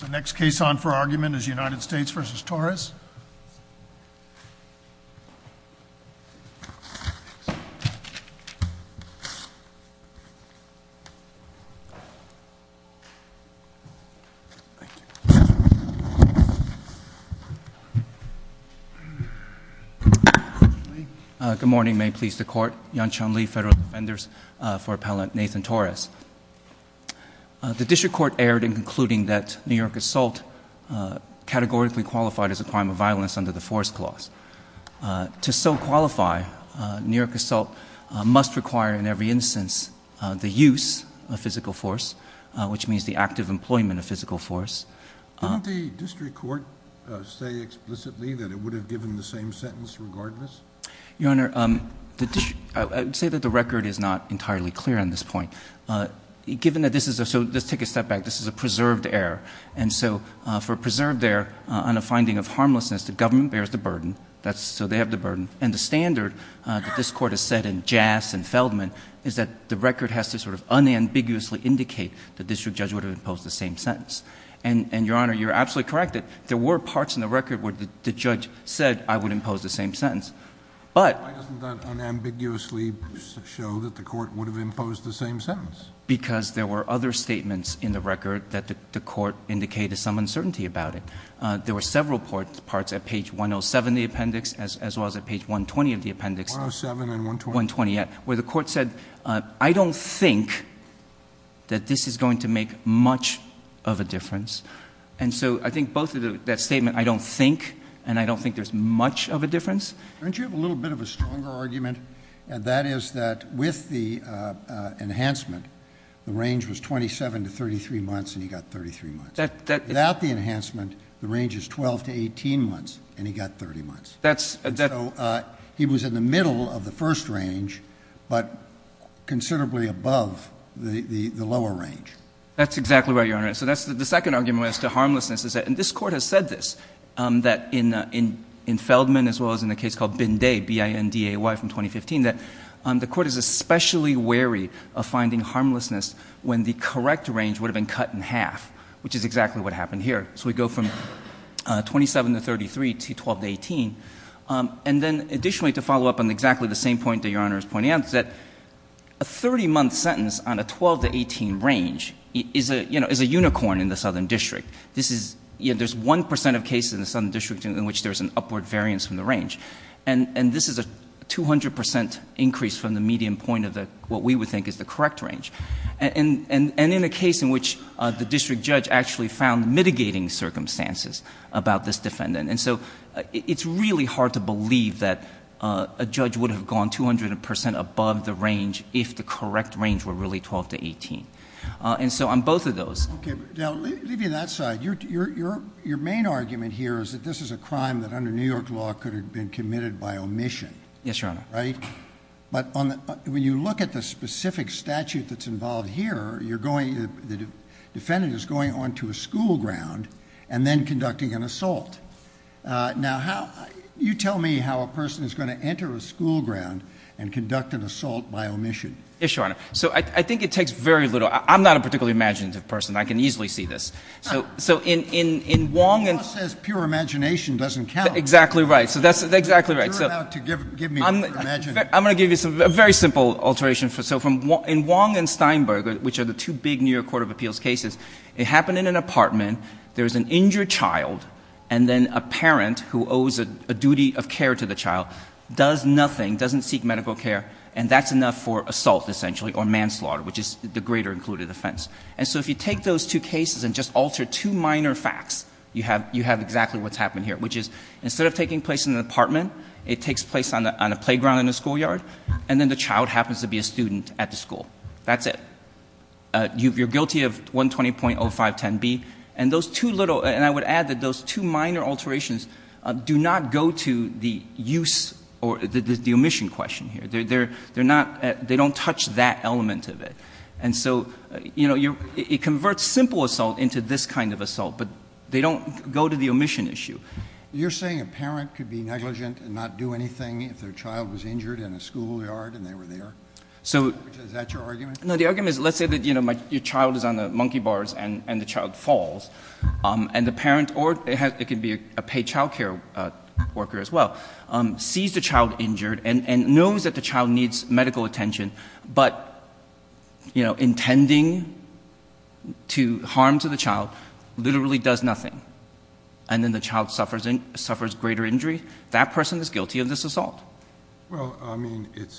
The next case on for argument is United States v. Torres. Good morning. May it please the court. Yan Chun-Li, Federal Defenders for Appellant Nathan Torres. The district court erred in concluding that New York assault categorically qualified as a crime of violence under the force clause. To so qualify, New York assault must require in every instance the use of physical force, which means the active employment of physical force. Didn't the district court say explicitly that it would have given the same sentence regardless? Your Honor, I would say that the record is not entirely clear on this point. Given that this is a, so let's take a step back, this is a preserved error. And so for a preserved error on a finding of harmlessness, the government bears the burden. That's, so they have the burden. And the standard that this court has set in Jass and Feldman is that the record has to sort of unambiguously indicate the district judge would have imposed the same sentence. And, Your Honor, you're absolutely correct that there were parts in the record where the judge said, I would impose the same sentence. But Why doesn't that unambiguously show that the court would have imposed the same sentence? Because there were other statements in the record that the court indicated some uncertainty about it. There were several parts at page 107 of the appendix, as well as at page 120 of the appendix. 107 and 120? 120, yeah. Where the court said, I don't think that this is going to make much of a difference. And so I think both of those statements, I don't think, and I don't think there's much of a difference. Don't you have a little bit of a stronger argument? And that is that with the enhancement, the range was 27 to 33 months, and he got 33 months. Without the enhancement, the range is 12 to 18 months, and he got 30 months. That's And so he was in the middle of the first range, but considerably above the lower range. That's exactly right, Your Honor. And so that's the second argument as to harmlessness is that, and this Court has said this, that in Feldman, as well as in a case called Binday, B-I-N-D-A-Y from 2015, that the Court is especially wary of finding harmlessness when the correct range would have been cut in half, which is exactly what happened here. So we go from 27 to 33 to 12 to 18. And then, additionally, to follow up on exactly the same point that Your Honor is pointing out, is that a 30-month sentence on a 12 to 18 range is a unicorn in the Southern District. This is, you know, there's 1 percent of cases in the Southern District in which there's an upward variance from the range. And this is a 200 percent increase from the median point of what we would think is the correct range. And in a case in which the district judge actually found mitigating circumstances about this defendant. And so it's really hard to believe that a judge would have gone 200 percent above the range if the correct range were really 12 to 18. And so on both of those. Okay. Now, leaving that side, your main argument here is that this is a crime that, under New York law, could have been committed by omission. Yes, Your Honor. Right? But when you look at the specific statute that's involved here, the defendant is going on to a school ground and then conducting an assault. Now, you tell me how a person is going to enter a school ground and conduct an assault by omission. Yes, Your Honor. So I think it takes very little. I'm not a particularly imaginative person. I can easily see this. So in Wong and The law says pure imagination doesn't count. Exactly right. So that's exactly right. You're about to give me pure imagination. I'm going to give you a very simple alteration. So in Wong and Steinberg, which are the two big New York Court of Appeals cases, it happened in an apartment, there was an injured child, and then a parent who owes a duty of care to the child does nothing, doesn't seek medical care, and that's enough for assault, essentially, or manslaughter, which is the greater included offense. And so if you take those two cases and just alter two minor facts, you have exactly what's happened here, which is instead of taking place in an apartment, it takes place on a playground in a schoolyard, and then the child happens to be a student at the school. That's it. You're guilty of 120.0510B. And I would add that those two minor alterations do not go to the use or the omission question here. They don't touch that element of it. And so it converts simple assault into this kind of assault, but they don't go to the omission issue. You're saying a parent could be negligent and not do anything if their child was injured in a schoolyard and they were there? Is that your argument? No, the argument is, let's say that your child is on the monkey bars and the child falls, and the parent, or it could be a paid child care worker as well, sees the child injured and knows that the child needs medical attention, but intending to harm to the child literally does nothing, and then the child suffers greater injury, that person is guilty of this assault. Well, I mean, it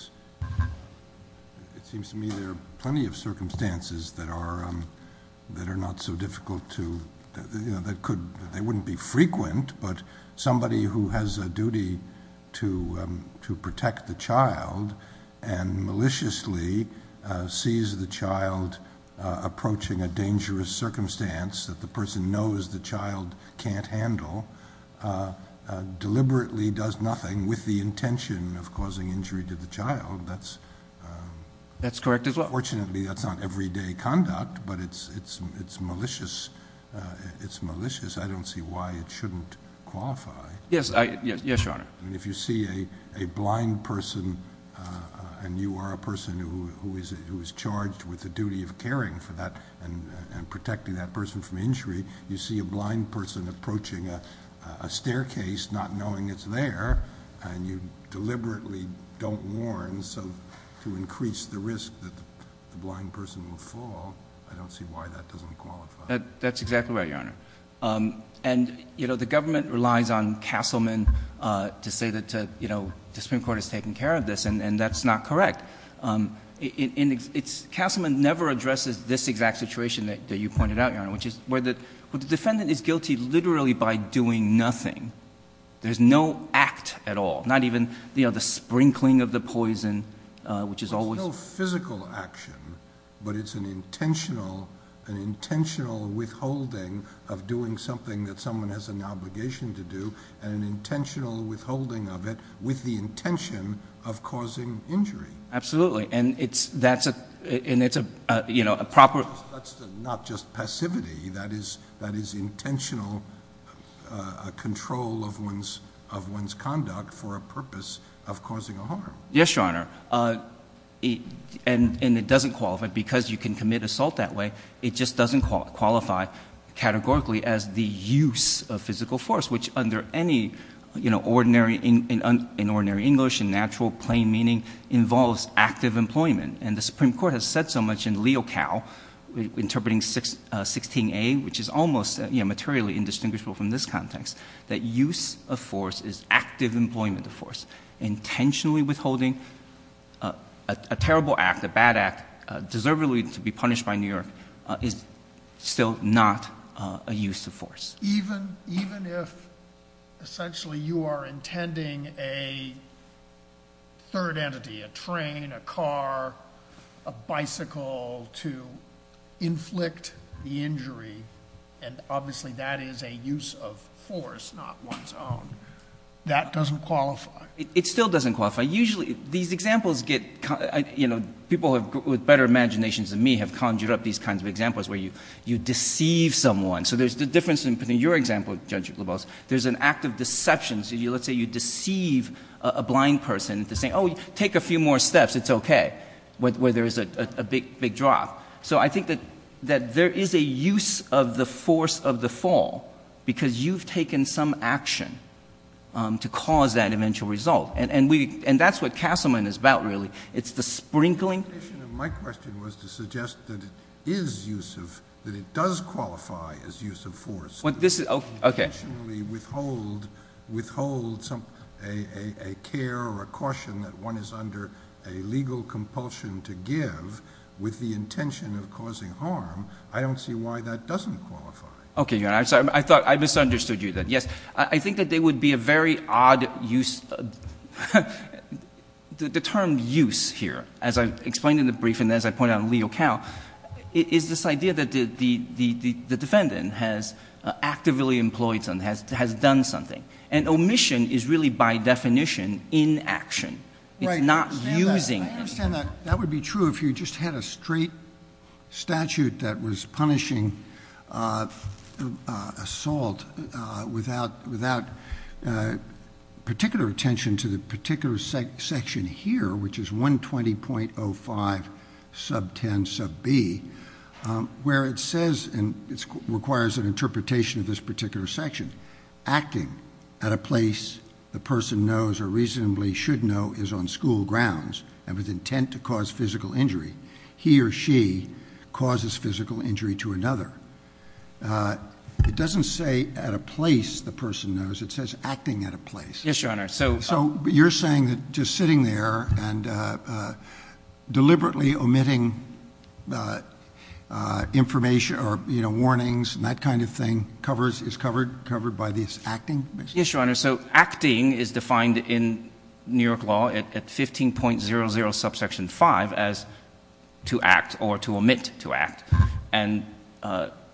seems to me there are plenty of circumstances that are not so difficult to, that they wouldn't be frequent, but somebody who has a duty to protect the child and maliciously sees the child approaching a dangerous circumstance that the person knows the child can't handle, deliberately does nothing with the intention of causing injury to the child, that's... That's correct as well. Fortunately, that's not everyday conduct, but it's malicious. I don't see why it shouldn't qualify. Yes, Your Honor. If you see a blind person, and you are a person who is charged with the duty of caring for that, and protecting that person from injury, you see a blind person approaching a staircase not knowing it's there, and you deliberately don't warn, so to increase the risk that the blind person will fall, I don't see why that doesn't qualify. That's exactly right, Your Honor. And, you know, the government relies on Castleman to say that the Supreme Court has taken care of this, and that's not correct. Castleman never addresses this exact situation that you pointed out, Your Honor, which is where the defendant is guilty literally by doing nothing. There's no act at all, not even the sprinkling of the poison, which is always... Well, it's no physical action, but it's an intentional withholding of doing something that someone has an obligation to do, and an intentional withholding of it with the intention of causing injury. Absolutely. And it's a proper... That's not just passivity. That is intentional control of one's conduct for a purpose of causing a harm. Yes, Your Honor. And it doesn't qualify, because you can commit assault that way. It just doesn't qualify categorically as the use of physical force, which under any ordinary, in ordinary law, is almost active employment. And the Supreme Court has said so much in LeoCow interpreting 16A, which is almost materially indistinguishable from this context, that use of force is active employment of force. Intentionally withholding a terrible act, a bad act, deservedly to be punished by New York, is still not a use of force. Even if, essentially, you are intending a third entity, a train, a car, a bicycle, to inflict the injury, and obviously that is a use of force, not one's own, that doesn't qualify. It still doesn't qualify. Usually, these examples get... People with better imaginations than me have conjured up these kinds of examples where you deceive someone. So there's the example, in your example, Judge Lobos, there's an act of deception. So let's say you deceive a blind person to say, oh, take a few more steps, it's okay, where there is a big drop. So I think that there is a use of the force of the fall, because you've taken some action to cause that eventual result. And that's what Castleman is about, really. It's the sprinkling... My question was to suggest that it is use of... That it does qualify as use of force. This is... Okay. ...withhold a care or a caution that one is under a legal compulsion to give with the intention of causing harm. I don't see why that doesn't qualify. Okay, Your Honor. I'm sorry. I misunderstood you then. Yes. I think that there would be a very odd use... The term use here, as I explained in the brief and as I pointed out in Leo Cow, is this idea that the defendant has actively employed someone, has done something. And omission is really, by definition, inaction. It's not using... Right. I understand that. That would be true if you just had a straight statute that was in effect. Particular attention to the particular section here, which is 120.05 sub 10 sub B, where it says, and it requires an interpretation of this particular section, acting at a place the person knows or reasonably should know is on school grounds and with intent to cause physical injury. He or she causes physical injury to another. It doesn't say at a place the person knows. It says acting at a place. Yes, Your Honor. So you're saying that just sitting there and deliberately omitting information or warnings and that kind of thing is covered by this acting? Yes, Your Honor. So acting is defined in New York law at 15.00 sub section 5 as to act or to omit to act.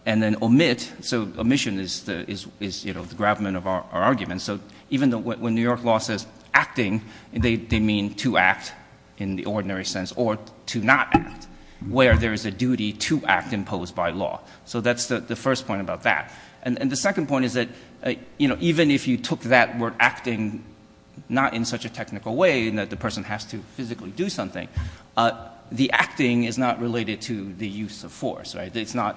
And then omit, so omission is the grabment of our argument. So even when New York law says acting, they mean to act in the ordinary sense or to not act, where there is a duty to act imposed by law. So that's the first point about that. And the second point is that even if you took that word acting not in such a technical way in that the person has to physically do something, the acting is not related to the use of force. It's not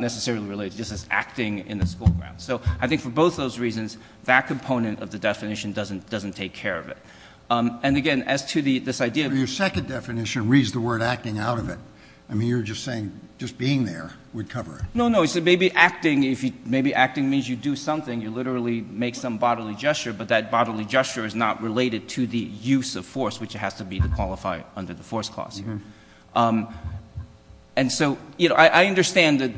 necessarily related. It's just acting in the school grounds. So I think for both those reasons, that component of the definition doesn't take care of it. And again, as to this idea of So your second definition reads the word acting out of it. I mean, you're just saying just being there would cover it. No, no. So maybe acting means you do something. You literally make some bodily gesture, but that bodily gesture is not related to the use of force, which it has to be to qualify under the force clause. And so I understand that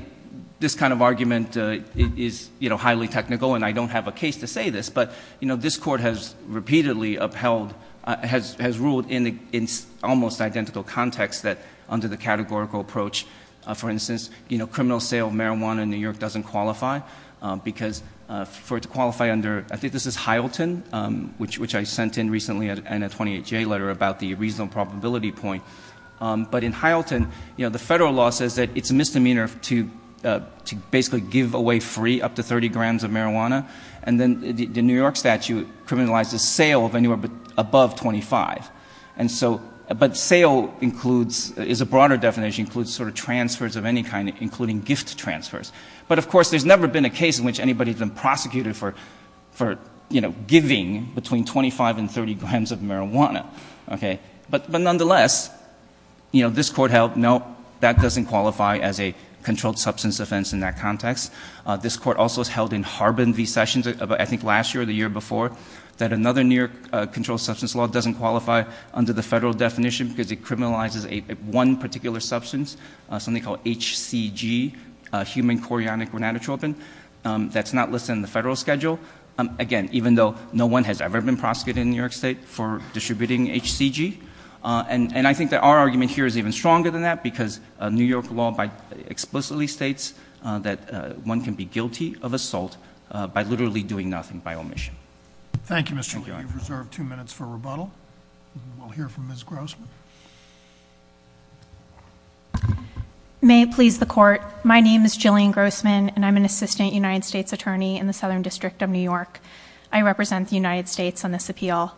this kind of argument is highly technical and I don't have a case to say this, but this court has repeatedly upheld, has ruled in almost identical context that under the categorical approach, for instance, criminal sale of marijuana in New York doesn't qualify because for it to qualify under, I think this is Hylton, which I sent in recently in a 28J letter about the reasonable probability point. But in Hylton, the federal law says that it's a misdemeanor to basically give away free up to 30 grams of marijuana. And then the New York statute criminalizes sale of anywhere above 25. But sale includes, is a broader definition, includes sort of transfers of any kind, including gift transfers. But of course, there's never been a case in which anybody's been prosecuted for giving between 25 and 30 grams of marijuana. But nonetheless, this court held, no, that doesn't qualify as a controlled substance offense in that context. This court also has held in Harbin v. Sessions, I think last year or the year before, that another New York controlled substance law doesn't qualify under the federal definition because it criminalizes one particular substance, something called HCG, human chorionic renatatropin, that's not listed in the federal schedule. Again, even though no one has ever been prosecuted in New York State for distributing HCG. And I think that our argument here is even stronger than that because New York law explicitly states that one can be guilty of assault by literally doing nothing by omission. Thank you, Mr. Lee. We've reserved two minutes for rebuttal. We'll hear from Ms. Grossman. May it please the court, my name is Jillian Grossman and I'm an assistant United States attorney in the Southern District of New York. I represent the United States on this appeal.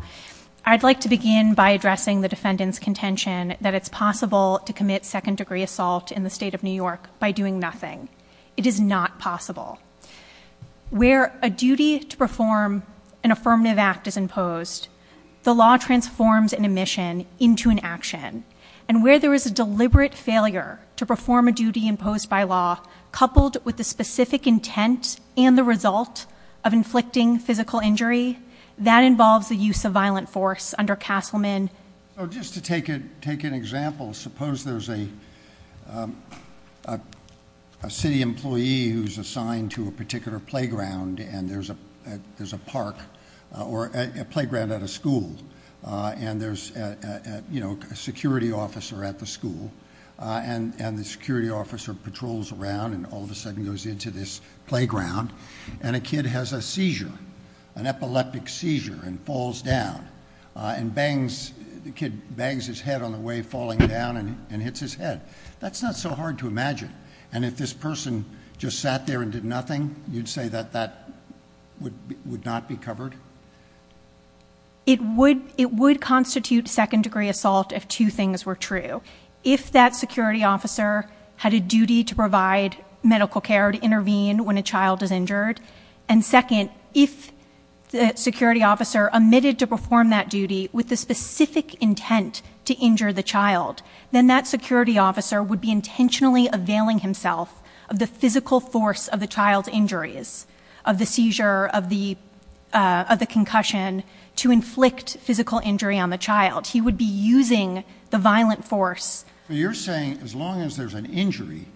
I'd like to begin by addressing the defendant's contention that it's possible to commit second degree assault in the state of New York by doing nothing. It is not possible. Where a affirmative act is imposed, the law transforms an omission into an action. And where there is a deliberate failure to perform a duty imposed by law, coupled with the specific intent and the result of inflicting physical injury, that involves the use of violent force under Castleman. Just to take an example, suppose there's a city employee who's assigned to a particular playground and there's a park, or a playground at a school, and there's a security officer at the school, and the security officer patrols around and all of a sudden goes into this playground, and a kid has a seizure, an epileptic seizure, and falls down, and bangs his head on the way falling down and hits his head. That's not so hard to imagine. And if this were true, that would not be covered? It would constitute second degree assault if two things were true. If that security officer had a duty to provide medical care, to intervene when a child is injured, and second, if the security officer omitted to perform that duty with the specific intent to injure the child, then that security officer would be intentionally availing himself of the physical force of the child's injuries, of the seizure, of the concussion, to inflict physical injury on the child. He would be using the violent force. So you're saying as long as there's an injury,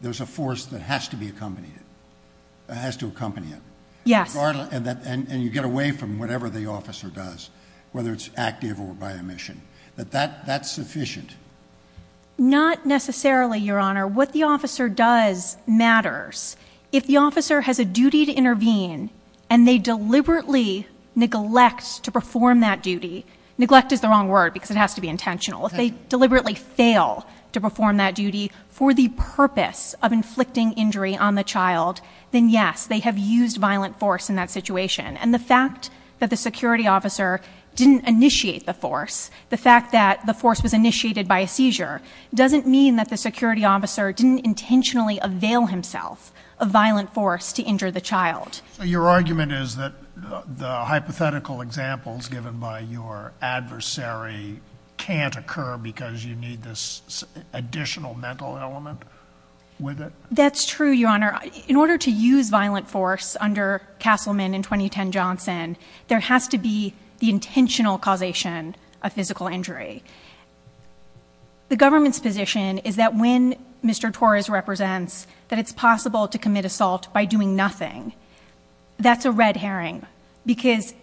there's a force that has to be accompanied, has to accompany it? Yes. And you get away from whatever the officer does, whether it's active or by omission. That's sufficient? Not necessarily, Your Honor. What the officer does matters. If the officer has a duty to intervene and they deliberately neglect to perform that duty, neglect is the wrong word because it has to be intentional. If they deliberately fail to perform that duty for the purpose of inflicting injury on the child, then yes, they have used violent force in that situation. And the fact that the security officer didn't initiate the force, the fact that the force was initiated by a seizure, doesn't mean that the security officer didn't intentionally avail himself of violent force to injure the child. Your argument is that the hypothetical examples given by your adversary can't occur because you need this additional mental element with it? That's true, Your Honor. In order to use violent force under Castleman and 2010 Johnson, there The government's position is that when Mr. Torres represents that it's possible to commit assault by doing nothing, that's a red herring because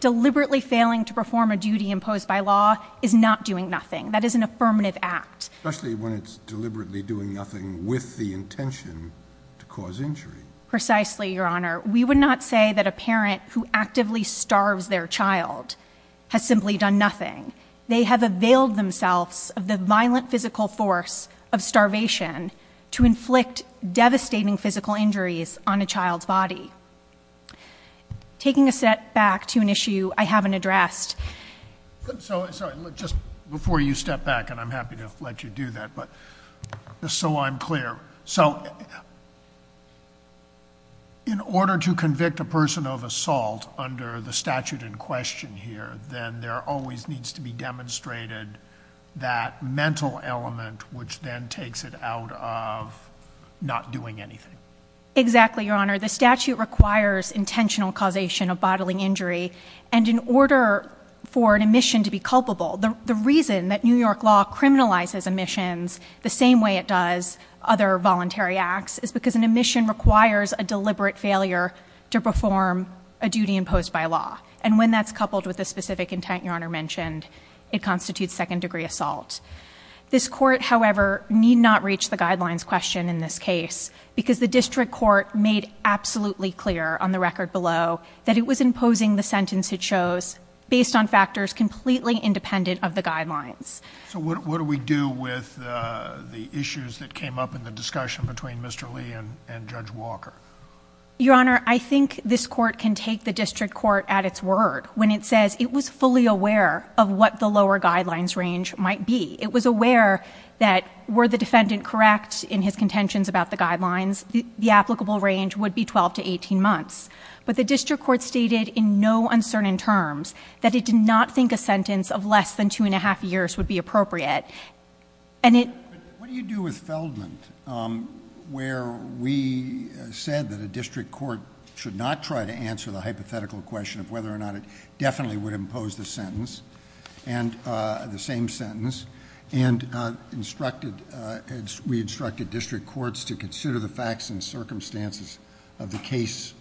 deliberately failing to perform a duty imposed by law is not doing nothing. That is an affirmative act. Especially when it's deliberately doing nothing with the intention to cause injury. Precisely, Your Honor. We would not say that a parent who actively starves their child has simply done nothing. They have availed themselves of the violent physical force of starvation to inflict devastating physical injuries on a child's body. Taking a step back to an issue I haven't addressed... So, sorry, look, just before you step back, and I'm happy to let you do that, but just so I'm clear, so in order to convict a person of assault under the statute in question here, then there always needs to be demonstrated that mental element which then takes it out of not doing anything. Exactly, Your Honor. The statute requires intentional causation of bodily injury, and in order for an omission to be culpable, the reason that New York law criminalizes omissions the same way it does other voluntary acts is because an omission requires a deliberate failure to perform a duty imposed by law, and when that's coupled with a specific intent Your Honor mentioned, it constitutes second degree assault. This court, however, need not reach the guidelines question in this case, because the district court made absolutely clear on the record below that it was imposing the sentence it chose based on factors completely independent of the guidelines. So what do we do with the issues that came up in the discussion between Mr. Lee and Judge Walker? Your Honor, I think this court can take the district court at its word when it says it was fully aware of what the lower guidelines range might be. It was aware that were the defendant correct in his contentions about the guidelines, the applicable range would be 12 to 18 months, but the district court stated in no uncertain terms that it did not think a sentence of less than two and a half years would be appropriate, and it What do you do with Feldman, where we said that a district court should not try to answer the hypothetical question of whether or not it definitely would impose the sentence, the same sentence, and we instructed district courts to consider the facts and circumstances of the case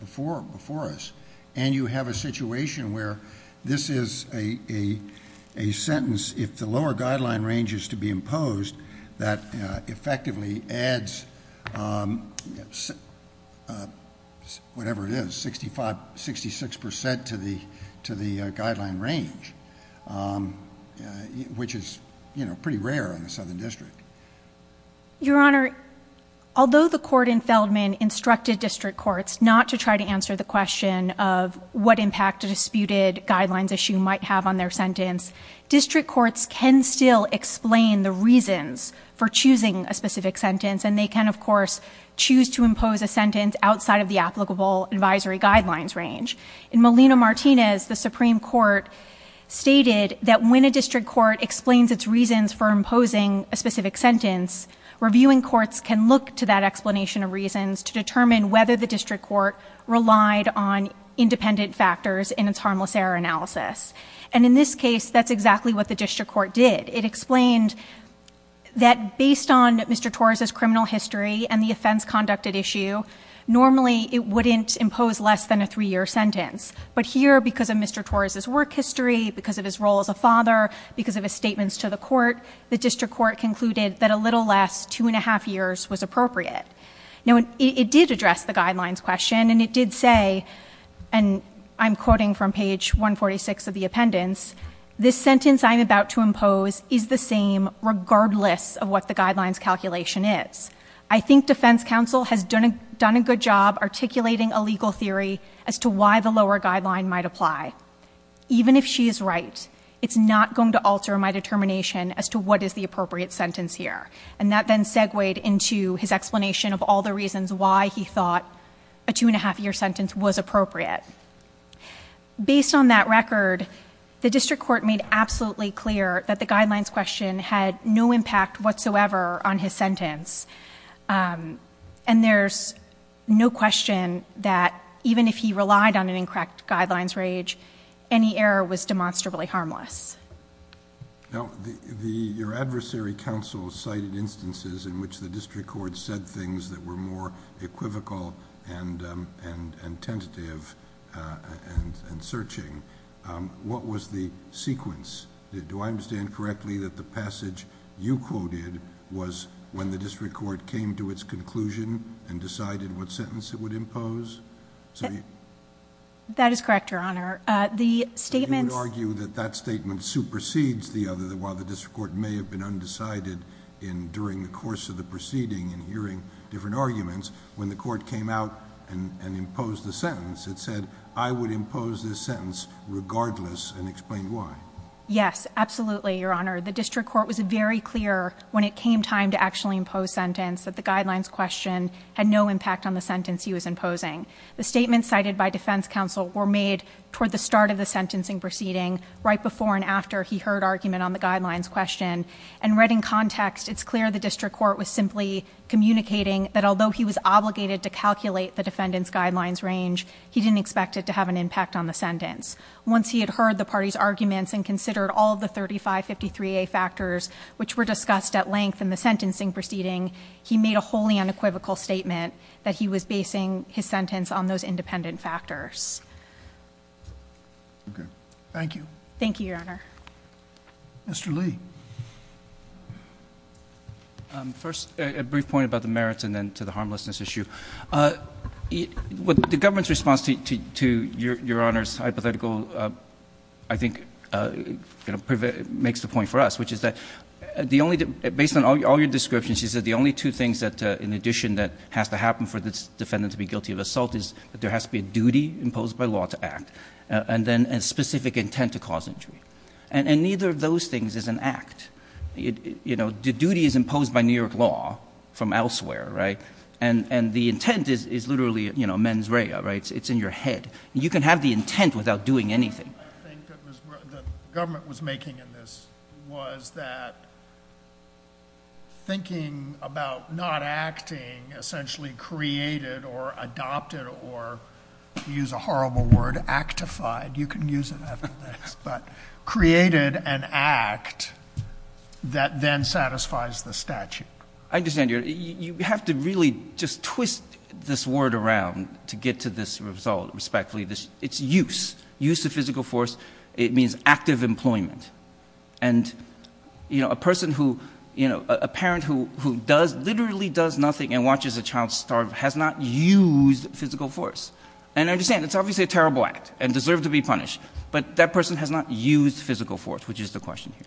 before us, and you have a situation where this is a sentence, if the lower guideline range is to be imposed, that effectively adds whatever it is, 65, 66% to the guideline range, which is pretty rare in the Southern District. Your Honor, although the court in Feldman instructed district courts not to try to answer the question of what impact a disputed guidelines issue might have on their sentence, district courts can still explain the reasons for choosing a specific sentence, and they can, of course, choose to impose a sentence outside of the applicable advisory guidelines range. In Molina-Martinez, the Supreme Court stated that when a district court explains its reasons for imposing a specific sentence, reviewing courts can look to that explanation of reasons to determine whether the district court relied on independent factors in its harmless error analysis, and in this case, that's exactly what the district court did. It explained that based on Mr. Torres' criminal history and the offense conducted issue, normally it wouldn't impose less than a three-year sentence, but here, because of Mr. Torres' work history, because of his role as a father, because of his statements to the court, the district court concluded that a little less two and a half years was appropriate. Now, it did address the guidelines question, and it did say, and I'm quoting from page 146 of the appendix, this sentence I'm about to impose is the same regardless of what the guidelines calculation is. I think defense counsel has done a good job articulating a legal theory as to why the lower guideline might apply. Even if she is right, it's not going to alter my determination as to what is the appropriate sentence here, and that then segued into his explanation of all the reasons why he thought a two and a half year sentence was appropriate. Based on that record, the district court made absolutely clear that the guidelines question had no impact whatsoever on his sentence, and there's no question that even if he relied on an incorrect guidelines range, any error was demonstrably harmless. Your adversary counsel cited instances in which the district court said things that were more equivocal and tentative and searching. What was the sequence? Do I understand correctly that the passage you quoted was when the district court came to its conclusion and decided what sentence it would impose? That is correct, Your Honor. You would argue that that statement supersedes the other, that while the district court may have been undecided during the course of the proceeding in hearing different arguments, when the court came out and imposed the sentence, it said, I would impose this sentence regardless and explain why. Yes, absolutely, Your Honor. The district court was very clear when it came time to actually impose sentence that the guidelines question had no impact on the sentence he was imposing. The statement cited by defense counsel were made toward the start of the sentencing proceeding right before and after he heard argument on the guidelines question. And read in context, it's clear the district court was simply communicating that although he was obligated to calculate the defendant's guidelines range, he didn't expect it to have an impact on the sentence. Once he had heard the party's arguments and considered all the 3553A factors which were discussed at length in the sentencing proceeding, he made a wholly unequivocal statement that he was basing his sentence on those independent factors. Okay. Thank you. Thank you, Your Honor. Mr. Lee. First, a brief point about the merits and then to the harmlessness issue. The government's response to Your Honor's hypothetical I think makes the point for us, which is that based on all your descriptions, you said the only two things in addition that has to happen for this defendant to be guilty of assault is that there has to be a duty imposed by law to act and then a specific intent to cause injury. And neither of those things is an act. You know, the duty is imposed by New York law from elsewhere, right? And the intent is literally, you know, mens rea, right? It's in your head. You can have the intent without doing anything. The point I think that the government was making in this was that thinking about not acting essentially created or adopted or, to use a horrible word, actified, you can use it after this, but created an act that then satisfies the statute. I understand, Your Honor. You have to really just twist this word around to get to this result, respectfully. It's use. Use of physical force, it means active employment. And you know, a person who, you know, a parent who does, literally does nothing and watches a child starve has not used physical force. And I understand, it's obviously a terrible act and deserves to be punished, but that person has not used physical force, which is the question here.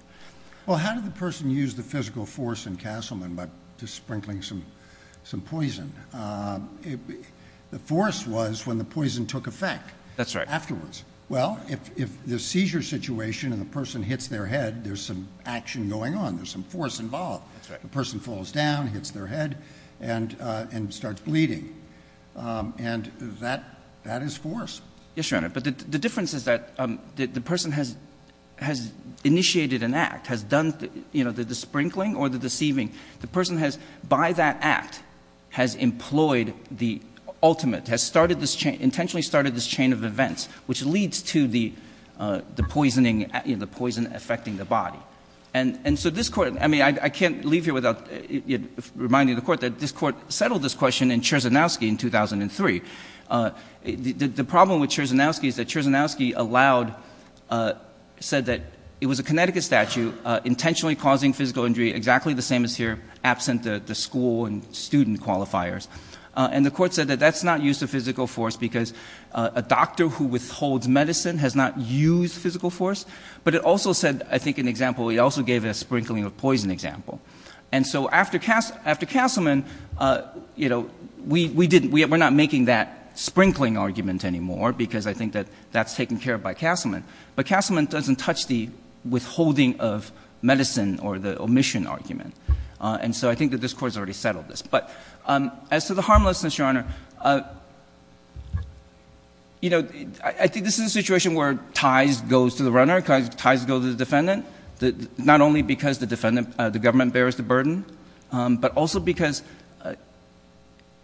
Well, how did the person use the physical force in Castleman by just sprinkling some poison? The force was when the poison took effect. That's right. Afterwards. Well, if the seizure situation and the person hits their head, there's some action going There's some force involved. That's right. The person falls down, hits their head, and starts bleeding. And that is force. Yes, Your Honor. But the difference is that the person has initiated an act, has done the sprinkling or the deceiving. The person has, by that act, has employed the ultimate, has started this chain, intentionally started this chain of events, which leads to the poisoning, you know, the poison affecting the body. And so this Court, I mean, I can't leave here without reminding the Court that this Court settled this question in Cherzanowski in 2003. The problem with Cherzanowski is that Cherzanowski allowed, said that it was a Connecticut statute, intentionally causing physical injury exactly the same as here, absent the school and student qualifiers. And the Court said that that's not use of physical force because a doctor who withholds medicine has not used physical force. But it also said, I think an example, it also gave a sprinkling of poison example. And so after Castleman, you know, we didn't, we're not making that sprinkling argument anymore because I think that that's taken care of by Castleman. But Castleman doesn't touch the withholding of medicine or the omission argument. And so I think that this Court has already settled this. But as to the harmlessness, Your Honor, you know, I think this is a situation where ties goes to the runner, ties go to the defendant, not only because the defendant, the government bears the burden, but also because,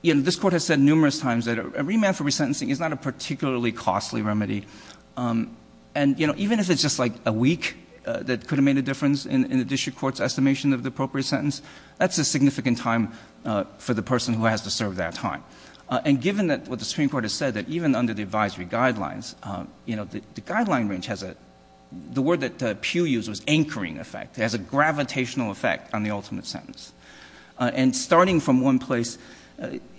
you know, this Court has said numerous times that a And, you know, even if it's just like a week that could have made a difference in the district court's estimation of the appropriate sentence, that's a significant time for the person who has to serve that time. And given that what the Supreme Court has said that even under the advisory guidelines, you know, the guideline range has a, the word that Pew used was anchoring effect. It has a gravitational effect on the ultimate sentence. And starting from one place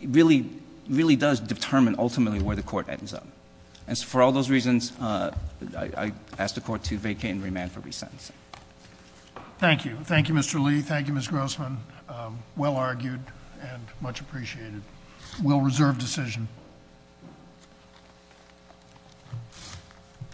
really, really does determine ultimately where the court ends up. And so for all those reasons, I ask the court to vacate and remand for resentencing. Thank you. Thank you, Mr. Lee. Thank you, Ms. Grossman. Well argued and much appreciated. We'll reserve decision.